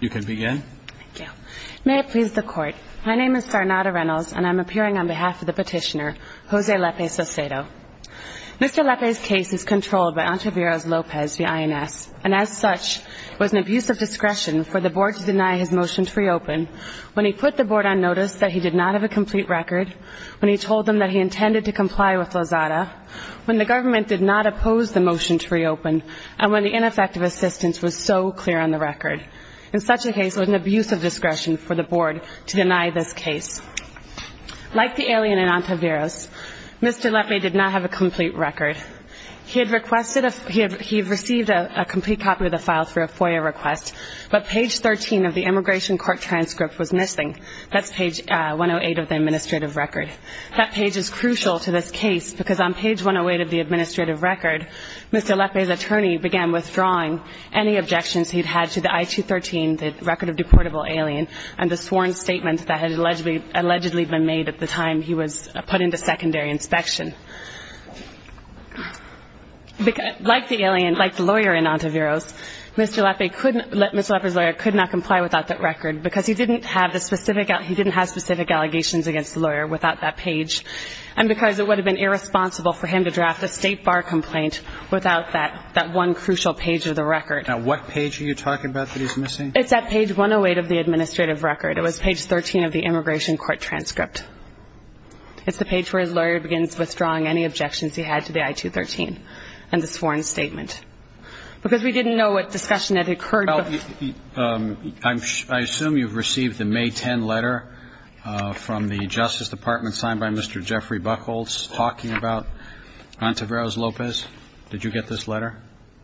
You can begin. Thank you. May it please the Court, my name is Sarnata Reynolds, and I'm appearing on behalf of the petitioner, Jose Lepe-Saucedo. Mr. Lepe's case is controlled by Antaviros Lopez, the INS, and as such, it was an abuse of discretion for the Board to deny his motion to reopen when he put the Board on notice that he did not have a complete record, when he told them that he intended to comply with Lozada, when the government did not oppose the motion to reopen, and when the ineffective assistance was so clear on the record. In such a case, it was an abuse of discretion for the Board to deny this case. Like the alien in Antaviros, Mr. Lepe did not have a complete record. He had received a complete copy of the file through a FOIA request, but page 13 of the immigration court transcript was missing. That's page 108 of the administrative record. That page is crucial to this case because on page 108 of the administrative record, Mr. Lepe's attorney began withdrawing any objections he'd had to the I-213, the record of deportable alien, and the sworn statement that had allegedly been made at the time he was put into secondary inspection. Like the lawyer in Antaviros, Mr. Lepe's lawyer could not comply without that record because he didn't have specific allegations against the lawyer without that page and because it would have been irresponsible for him to draft a state bar complaint without that one crucial page of the record. Now, what page are you talking about that he's missing? It's at page 108 of the administrative record. It was page 13 of the immigration court transcript. It's the page where his lawyer begins withdrawing any objections he had to the I-213 and the sworn statement. Because we didn't know what discussion had occurred. I assume you've received the May 10 letter from the Justice Department signed by Mr. Jeffrey Buchholz talking about Antaviros Lopez. Did you get this letter?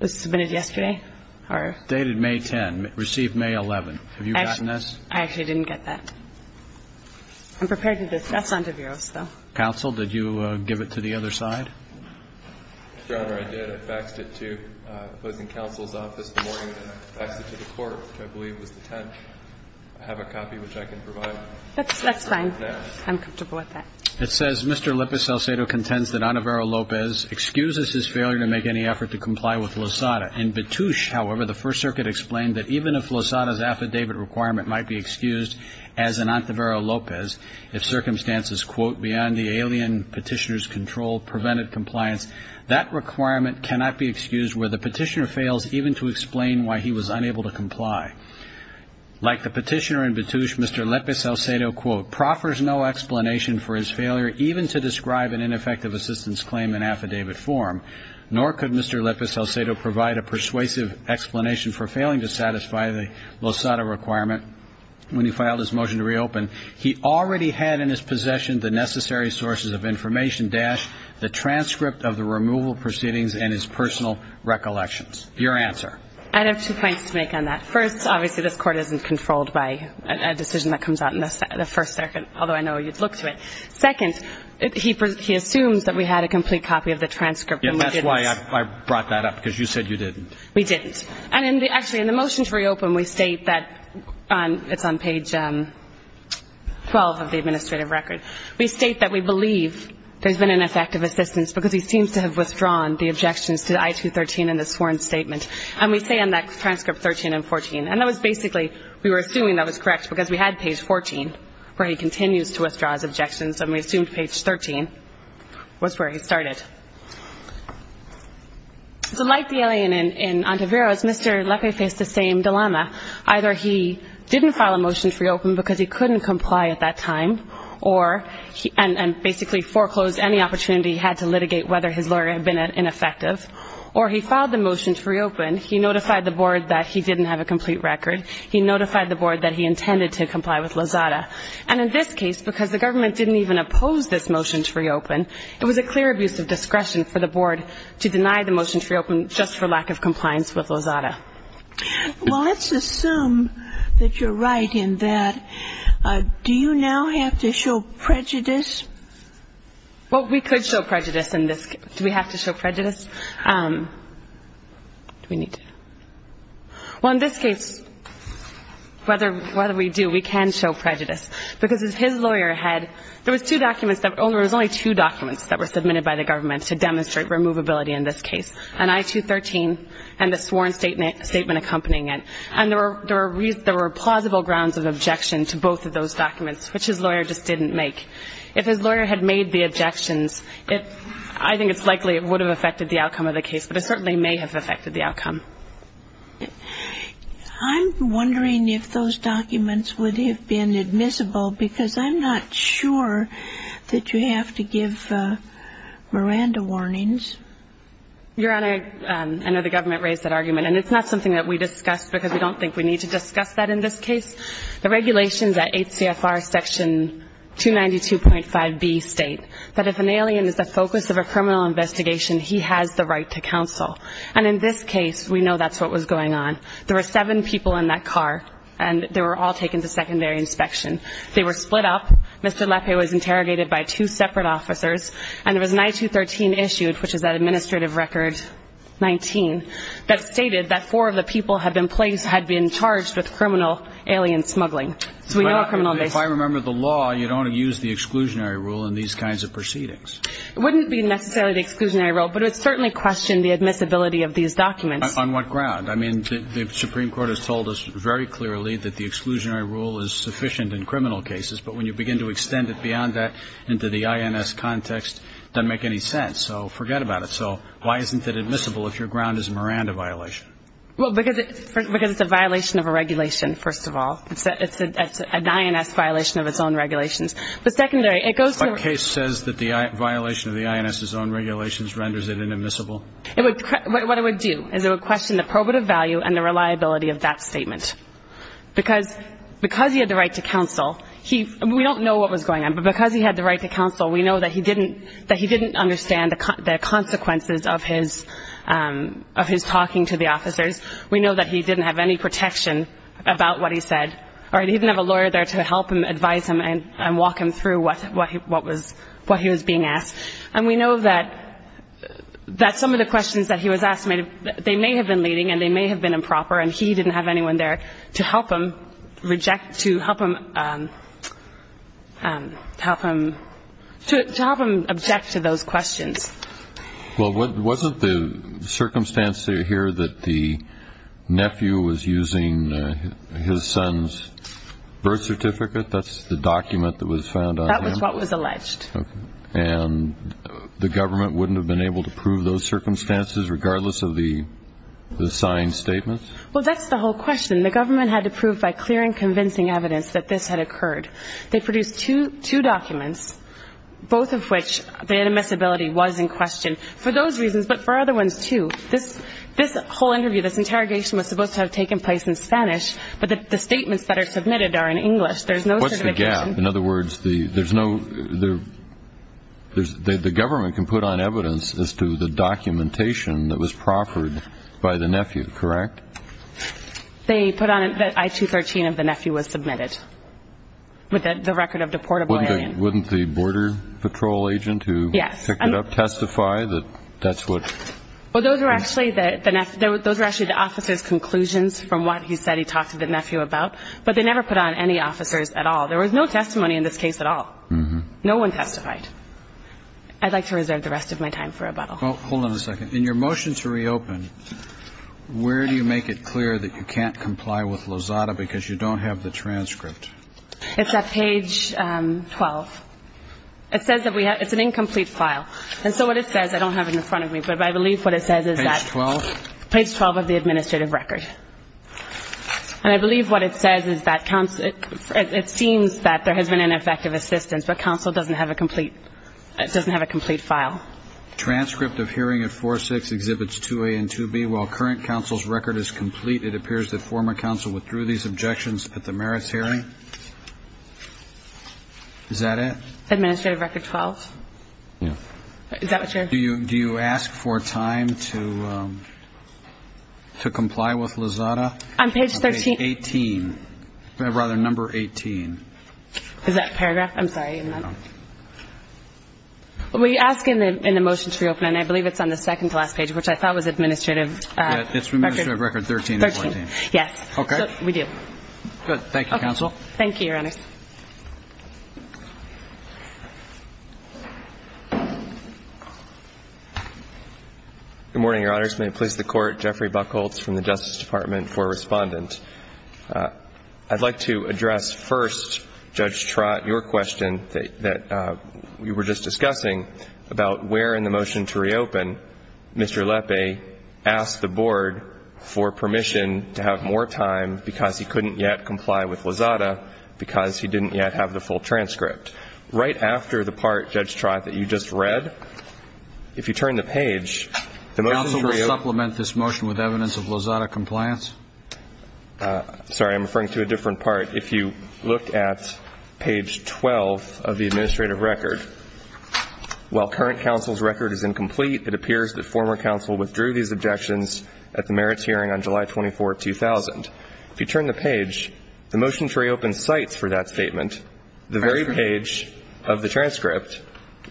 It was submitted yesterday. Dated May 10, received May 11. Have you gotten this? I actually didn't get that. I'm prepared to discuss Antaviros, though. Counsel, did you give it to the other side? I did. I faxed it to the opposing counsel's office the morning that I faxed it to the court, which I believe was the 10th. I have a copy, which I can provide. That's fine. I'm comfortable with that. It says, Mr. Lepiselsedo contends that Antaviros Lopez excuses his failure to make any effort to comply with LOSADA. In Betoosh, however, the First Circuit explained that even if LOSADA's affidavit requirement might be excused as in Antaviros Lopez, if circumstances, quote, beyond the alien petitioner's control prevented compliance, that requirement cannot be excused where the petitioner fails even to explain why he was unable to comply. Like the petitioner in Betoosh, Mr. Lepiselsedo, quote, proffers no explanation for his failure even to describe an ineffective assistance claim in affidavit form, nor could Mr. Lepiselsedo provide a persuasive explanation for failing to satisfy the LOSADA requirement. When he filed his motion to reopen, he already had in his possession the necessary sources of information, dash, the transcript of the removal proceedings and his personal recollections. Your answer. I have two points to make on that. First, obviously, this court isn't controlled by a decision that comes out in the first circuit, although I know you'd look to it. Second, he assumes that we had a complete copy of the transcript and we didn't. Yes, that's why I brought that up, because you said you didn't. We didn't. And actually, in the motion to reopen, we state that it's on page 12 of the administrative record. We state that we believe there's been an ineffective assistance because he seems to have withdrawn the objections to I-213 in the sworn statement. And we say on that transcript 13 and 14. And that was basically, we were assuming that was correct because we had page 14, where he continues to withdraw his objections, and we assumed page 13 was where he started. So like the alien in Ontiveros, Mr. Lepiselsedo faced the same dilemma. Either he didn't file a motion to reopen because he couldn't comply at that time and basically foreclosed any opportunity he had to litigate whether his lawyer had been ineffective, or he filed the motion to reopen. He notified the board that he didn't have a complete record. He notified the board that he intended to comply with Lozada. And in this case, because the government didn't even oppose this motion to reopen, it was a clear abuse of discretion for the board to deny the motion to reopen just for lack of compliance with Lozada. Well, let's assume that you're right in that. Do you now have to show prejudice? Well, we could show prejudice in this case. Do we have to show prejudice? Do we need to? Well, in this case, whether we do, we can show prejudice because his lawyer had ‑‑ there was only two documents that were submitted by the government to demonstrate removability in this case, an I-213 and the sworn statement accompanying it, and there were plausible grounds of objection to both of those documents, which his lawyer just didn't make. If his lawyer had made the objections, I think it's likely it would have affected the outcome of the case, but it certainly may have affected the outcome. I'm wondering if those documents would have been admissible because I'm not sure that you have to give Miranda warnings. Your Honor, I know the government raised that argument, and it's not something that we discussed because we don't think we need to discuss that in this case. The regulations at HCFR section 292.5B state that if an alien is the focus of a criminal investigation, he has the right to counsel. And in this case, we know that's what was going on. There were seven people in that car, and they were all taken to secondary inspection. They were split up. Mr. Lappe was interrogated by two separate officers, and there was an I-213 issued, which is that administrative record 19, that stated that four of the people had been charged with criminal alien smuggling. So we know a criminal investigation. If I remember the law, you don't use the exclusionary rule in these kinds of proceedings. It wouldn't be necessarily the exclusionary rule, but it would certainly question the admissibility of these documents. On what ground? I mean, the Supreme Court has told us very clearly that the exclusionary rule is sufficient in criminal cases, but when you begin to extend it beyond that into the INS context, it doesn't make any sense. So forget about it. So why isn't it admissible if your ground is a Miranda violation? Well, because it's a violation of a regulation, first of all. It's an INS violation of its own regulations. But secondary, it goes to the... What case says that the violation of the INS's own regulations renders it inadmissible? What it would do is it would question the probative value and the reliability of that statement. Because he had the right to counsel, we don't know what was going on, but because he had the right to counsel, we know that he didn't understand the consequences of his talking to the officers. We know that he didn't have any protection about what he said, or he didn't have a lawyer there to help him, advise him, and walk him through what he was being asked. And we know that some of the questions that he was asked, they may have been leading and they may have been improper, and he didn't have anyone there to help him object to those questions. Well, wasn't the circumstance here that the nephew was using his son's birth certificate? That's the document that was found on him? That was what was alleged. And the government wouldn't have been able to prove those circumstances regardless of the signed statements? Well, that's the whole question. The government had to prove by clear and convincing evidence that this had occurred. They produced two documents, both of which the inadmissibility was in question for those reasons, but for other ones too. This whole interview, this interrogation was supposed to have taken place in Spanish, but the statements that are submitted are in English. What's the gap? In other words, the government can put on evidence as to the documentation that was proffered by the nephew, correct? They put on it that I-213 of the nephew was submitted with the record of deportable alien. Wouldn't the border patrol agent who picked it up testify that that's what? Well, those were actually the officer's conclusions from what he said he talked to the nephew about, but they never put on any officers at all. There was no testimony in this case at all. No one testified. I'd like to reserve the rest of my time for rebuttal. Well, hold on a second. In your motion to reopen, where do you make it clear that you can't comply with Lozada because you don't have the transcript? It's at page 12. It says that we have an incomplete file. And so what it says, I don't have it in front of me, but I believe what it says is that page 12 of the administrative record. And I believe what it says is that it seems that there has been ineffective assistance, but counsel doesn't have a complete file. Transcript of hearing at 4-6 exhibits 2A and 2B. While current counsel's record is complete, it appears that former counsel withdrew these objections at the merits hearing. Is that it? Administrative record 12. Yeah. Is that what you're- Do you ask for time to comply with Lozada? On page 13. Page 18. Rather, number 18. Is that a paragraph? I'm sorry. We ask in the motion to reopen, and I believe it's on the second to last page, which I thought was administrative record 13. Yes. Okay. We do. Good. Thank you, counsel. Thank you, Your Honors. Good morning, Your Honors. May it please the Court. Jeffrey Buchholz from the Justice Department for Respondent. I'd like to address first, Judge Trott, your question that we were just discussing about where in the motion to reopen Mr. Lepe asked the Board for permission to have more time because he couldn't yet comply with Lozada because he didn't yet have the full transcript. Right after the part, Judge Trott, that you just read, if you turn the page- Counsel will supplement this motion with evidence of Lozada compliance? Sorry. I'm referring to a different part. If you look at page 12 of the administrative record, while current counsel's record is incomplete, it appears that former counsel withdrew these objections at the merits hearing on July 24, 2000. If you turn the page, the motion to reopen cites for that statement the very page of the transcript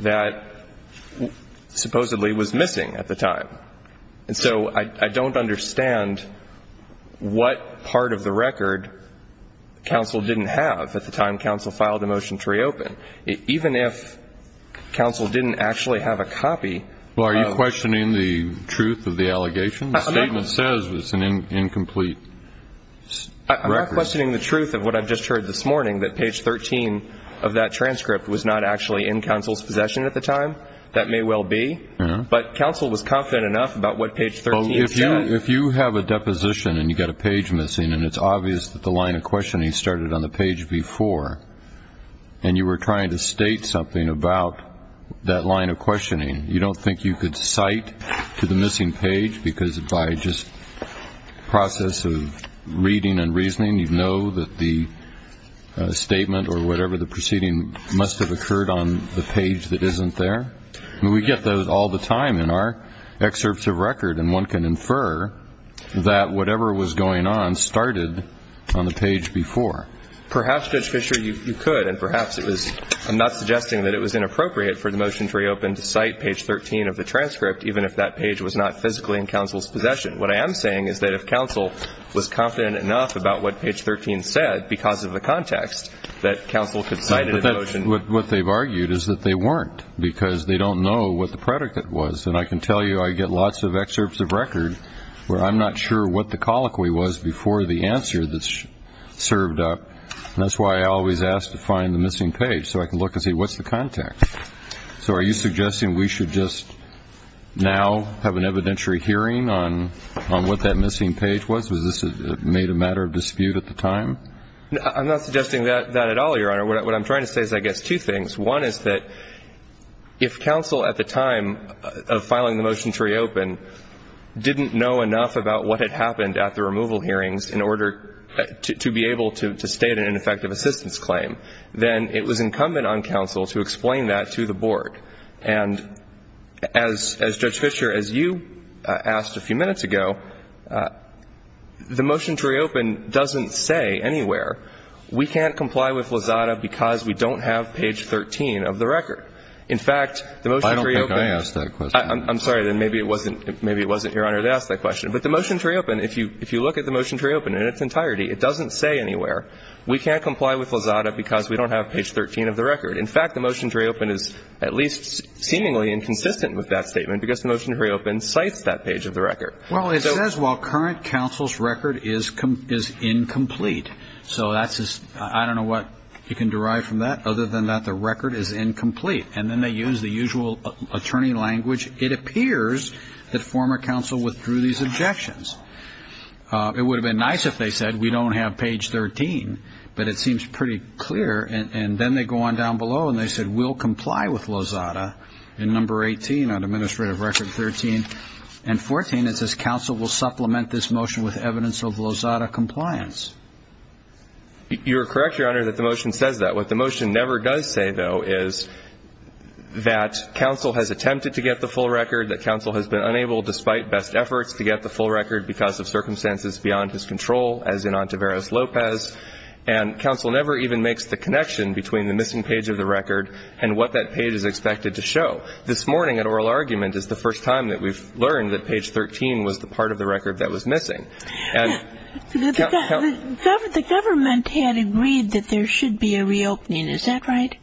that supposedly was missing at the time. And so I don't understand what part of the record counsel didn't have at the time counsel filed the motion to reopen. Even if counsel didn't actually have a copy- Well, are you questioning the truth of the allegation? The statement says it's an incomplete record. I'm not questioning the truth of what I've just heard this morning, that page 13 of that transcript was not actually in counsel's possession at the time. That may well be. But counsel was confident enough about what page 13 said. If you have a deposition and you've got a page missing and it's obvious that the line of questioning started on the page before and you were trying to state something about that line of questioning, you don't think you could cite to the missing page because by just process of reading and reasoning, you'd know that the statement or whatever the proceeding must have occurred on the page that isn't there? I mean, we get those all the time in our excerpts of record, and one can infer that whatever was going on started on the page before. Perhaps, Judge Fischer, you could, and perhaps it was- I'm not suggesting that it was inappropriate for the motion to reopen to cite page 13 of the transcript, even if that page was not physically in counsel's possession. What I am saying is that if counsel was confident enough about what page 13 said because of the context, that counsel could cite it in the motion- What they've argued is that they weren't because they don't know what the predicate was, and I can tell you I get lots of excerpts of record where I'm not sure what the colloquy was before the answer that's served up, and that's why I always ask to find the missing page so I can look and see what's the context. So are you suggesting we should just now have an evidentiary hearing on what that missing page was? Was this made a matter of dispute at the time? I'm not suggesting that at all, Your Honor. What I'm trying to say is, I guess, two things. One is that if counsel at the time of filing the motion to reopen didn't know enough about what had happened at the removal hearings in order to be able to state an ineffective assistance claim, then it was incumbent on counsel to explain that to the board. And as Judge Fischer, as you asked a few minutes ago, the motion to reopen doesn't say anywhere, we can't comply with Lozada because we don't have page 13 of the record. In fact, the motion to reopen. I don't think I asked that question. I'm sorry. Then maybe it wasn't, Your Honor, to ask that question. But the motion to reopen, if you look at the motion to reopen in its entirety, it doesn't say anywhere, we can't comply with Lozada because we don't have page 13 of the record. In fact, the motion to reopen is at least seemingly inconsistent with that statement because the motion to reopen cites that page of the record. Well, it says, well, current counsel's record is incomplete. So that's just, I don't know what you can derive from that. Other than that, the record is incomplete. And then they use the usual attorney language. It appears that former counsel withdrew these objections. It would have been nice if they said we don't have page 13, but it seems pretty clear. And then they go on down below and they said we'll comply with Lozada in number 18 on administrative record 13 and 14. And then it says counsel will supplement this motion with evidence of Lozada compliance. You're correct, Your Honor, that the motion says that. What the motion never does say, though, is that counsel has attempted to get the full record, that counsel has been unable, despite best efforts, to get the full record because of circumstances beyond his control, as in Ontiveros-Lopez. And counsel never even makes the connection between the missing page of the record and what that page is expected to show. So this morning at oral argument is the first time that we've learned that page 13 was the part of the record that was missing. The government had agreed that there should be a reopening. Is that right?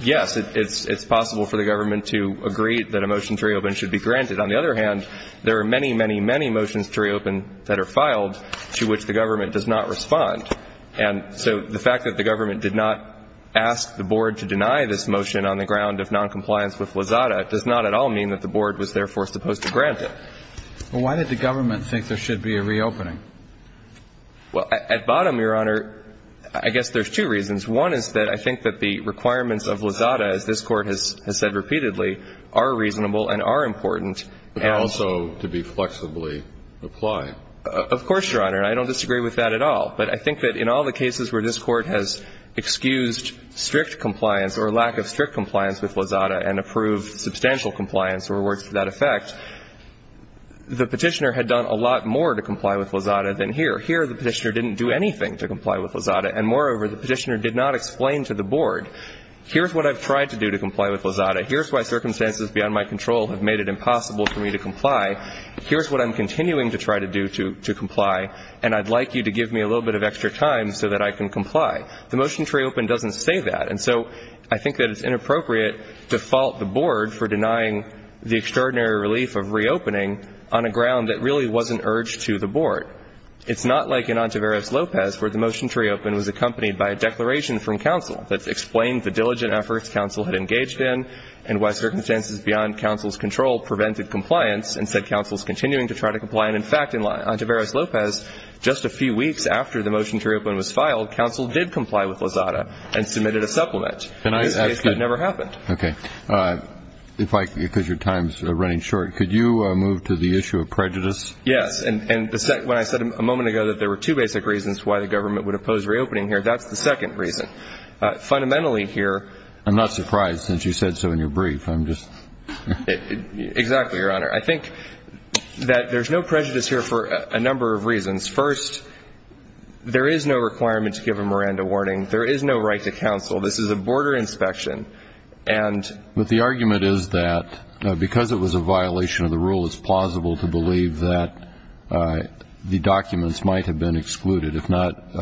Yes. It's possible for the government to agree that a motion to reopen should be granted. On the other hand, there are many, many, many motions to reopen that are filed to which the government does not respond. And so the fact that the government did not ask the board to deny this motion on the ground of noncompliance with Lozada does not at all mean that the board was therefore supposed to grant it. But why did the government think there should be a reopening? Well, at bottom, Your Honor, I guess there's two reasons. One is that I think that the requirements of Lozada, as this Court has said repeatedly, are reasonable and are important. But also to be flexibly applied. Of course, Your Honor. And I don't disagree with that at all. But I think that in all the cases where this Court has excused strict compliance or lack of strict compliance with Lozada and approved substantial compliance or words to that effect, the petitioner had done a lot more to comply with Lozada than here. Here, the petitioner didn't do anything to comply with Lozada. And moreover, the petitioner did not explain to the board, here's what I've tried to do to comply with Lozada. Here's why circumstances beyond my control have made it impossible for me to comply. Here's what I'm continuing to try to do to comply. And I'd like you to give me a little bit of extra time so that I can comply. The motion to reopen doesn't say that. And so I think that it's inappropriate to fault the board for denying the extraordinary relief of reopening on a ground that really wasn't urged to the board. It's not like in Ontiveros-Lopez where the motion to reopen was accompanied by a declaration from counsel that explained the diligent efforts counsel had engaged in and why circumstances beyond counsel's control prevented compliance and said counsel is continuing to try to comply. And, in fact, in Ontiveros-Lopez, just a few weeks after the motion to reopen was filed, counsel did comply with Lozada and submitted a supplement. In this case, that never happened. Okay. If I could, because your time's running short, could you move to the issue of prejudice? Yes. And when I said a moment ago that there were two basic reasons why the government would oppose reopening here, that's the second reason. Fundamentally here ‑‑ I'm not surprised since you said so in your brief. I'm just ‑‑ Exactly, Your Honor. I think that there's no prejudice here for a number of reasons. First, there is no requirement to give a Miranda warning. There is no right to counsel. This is a border inspection. And ‑‑ But the argument is that because it was a violation of the rule, it's plausible to believe that the documents might have been excluded, if not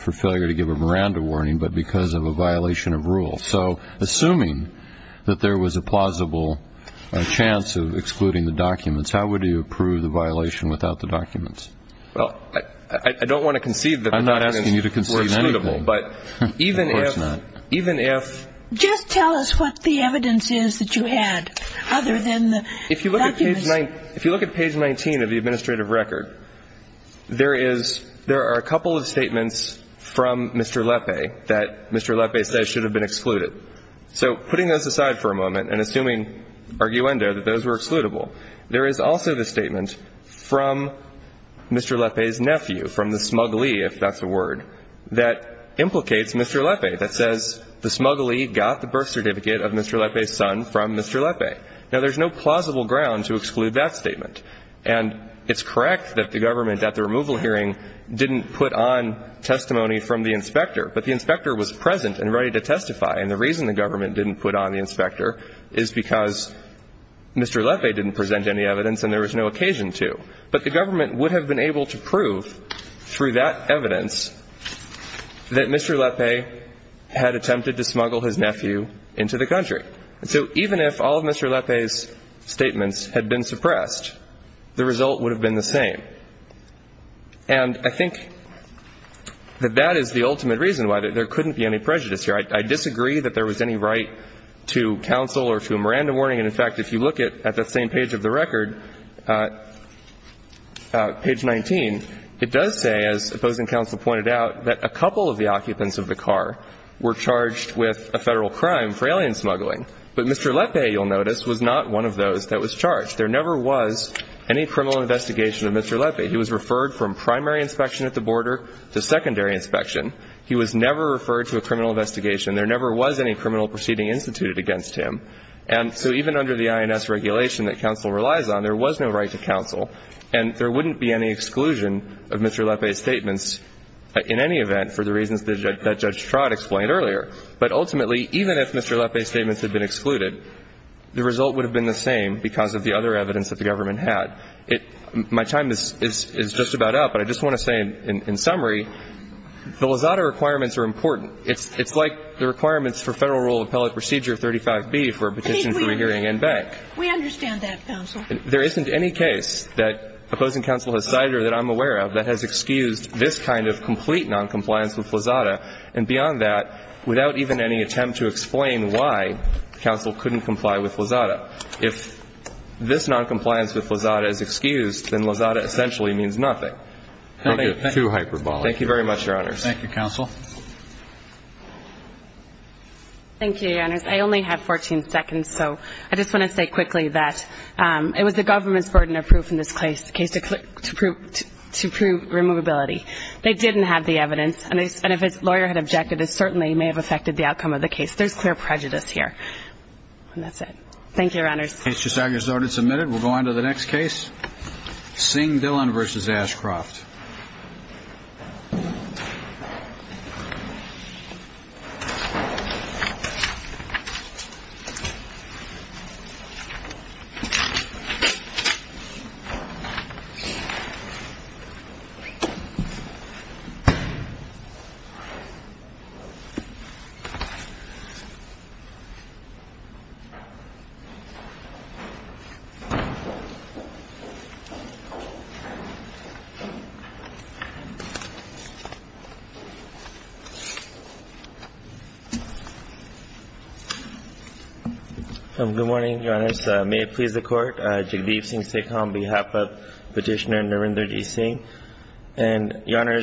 for failure to give a Miranda warning, but because of a violation of rule. So assuming that there was a plausible chance of excluding the documents, how would you approve the violation without the documents? Well, I don't want to conceive that the documents were excludable. I'm not asking you to conceive anything. But even if ‑‑ Of course not. Even if ‑‑ Just tell us what the evidence is that you had, other than the documents. If you look at page 19 of the administrative record, there is ‑‑ that Mr. Lepe says should have been excluded. So putting those aside for a moment and assuming arguendo that those were excludable, there is also the statement from Mr. Lepe's nephew, from the smuggly, if that's a word, that implicates Mr. Lepe, that says the smuggly got the birth certificate of Mr. Lepe's son from Mr. Lepe. Now, there's no plausible ground to exclude that statement. And it's correct that the government at the removal hearing didn't put on testimony from the inspector, but the inspector was present and ready to testify. And the reason the government didn't put on the inspector is because Mr. Lepe didn't present any evidence and there was no occasion to. But the government would have been able to prove, through that evidence, that Mr. Lepe had attempted to smuggle his nephew into the country. So even if all of Mr. Lepe's statements had been suppressed, the result would have been the same. And I think that that is the ultimate reason why there couldn't be any prejudice here. I disagree that there was any right to counsel or to a Miranda warning. And, in fact, if you look at that same page of the record, page 19, it does say, as opposing counsel pointed out, that a couple of the occupants of the car were charged with a Federal crime for alien smuggling. But Mr. Lepe, you'll notice, was not one of those that was charged. There never was any criminal investigation of Mr. Lepe. He was referred from primary inspection at the border to secondary inspection. He was never referred to a criminal investigation. There never was any criminal proceeding instituted against him. And so even under the INS regulation that counsel relies on, there was no right to counsel. And there wouldn't be any exclusion of Mr. Lepe's statements, in any event, for the reasons that Judge Trott explained earlier. But ultimately, even if Mr. Lepe's statements had been excluded, the result would have been the same because of the other evidence that the government had. My time is just about up, but I just want to say, in summary, the Lozada requirements are important. It's like the requirements for Federal Rule of Appellate Procedure 35B for a petition to a hearing in Beck. We understand that, counsel. There isn't any case that opposing counsel has cited or that I'm aware of that has excused this kind of complete noncompliance with Lozada. And beyond that, without even any attempt to explain why counsel couldn't comply with Lozada. If this noncompliance with Lozada is excused, then Lozada essentially means nothing. I don't think it's too hyperbolic. Thank you very much, Your Honors. Thank you, counsel. Thank you, Your Honors. I only have 14 seconds, so I just want to say quickly that it was the government's burden of proof in this case to prove removability. They didn't have the evidence. And if a lawyer had objected, it certainly may have affected the outcome of the case. There's clear prejudice here. And that's it. Thank you, Your Honors. Case is now resorted and submitted. We'll go on to the next case. Singh-Dillon v. Ashcroft. Good morning, Your Honors. May it please the Court. Jagdeep Singh Sekhar on behalf of Petitioner Narendraji Singh. And Your Honors.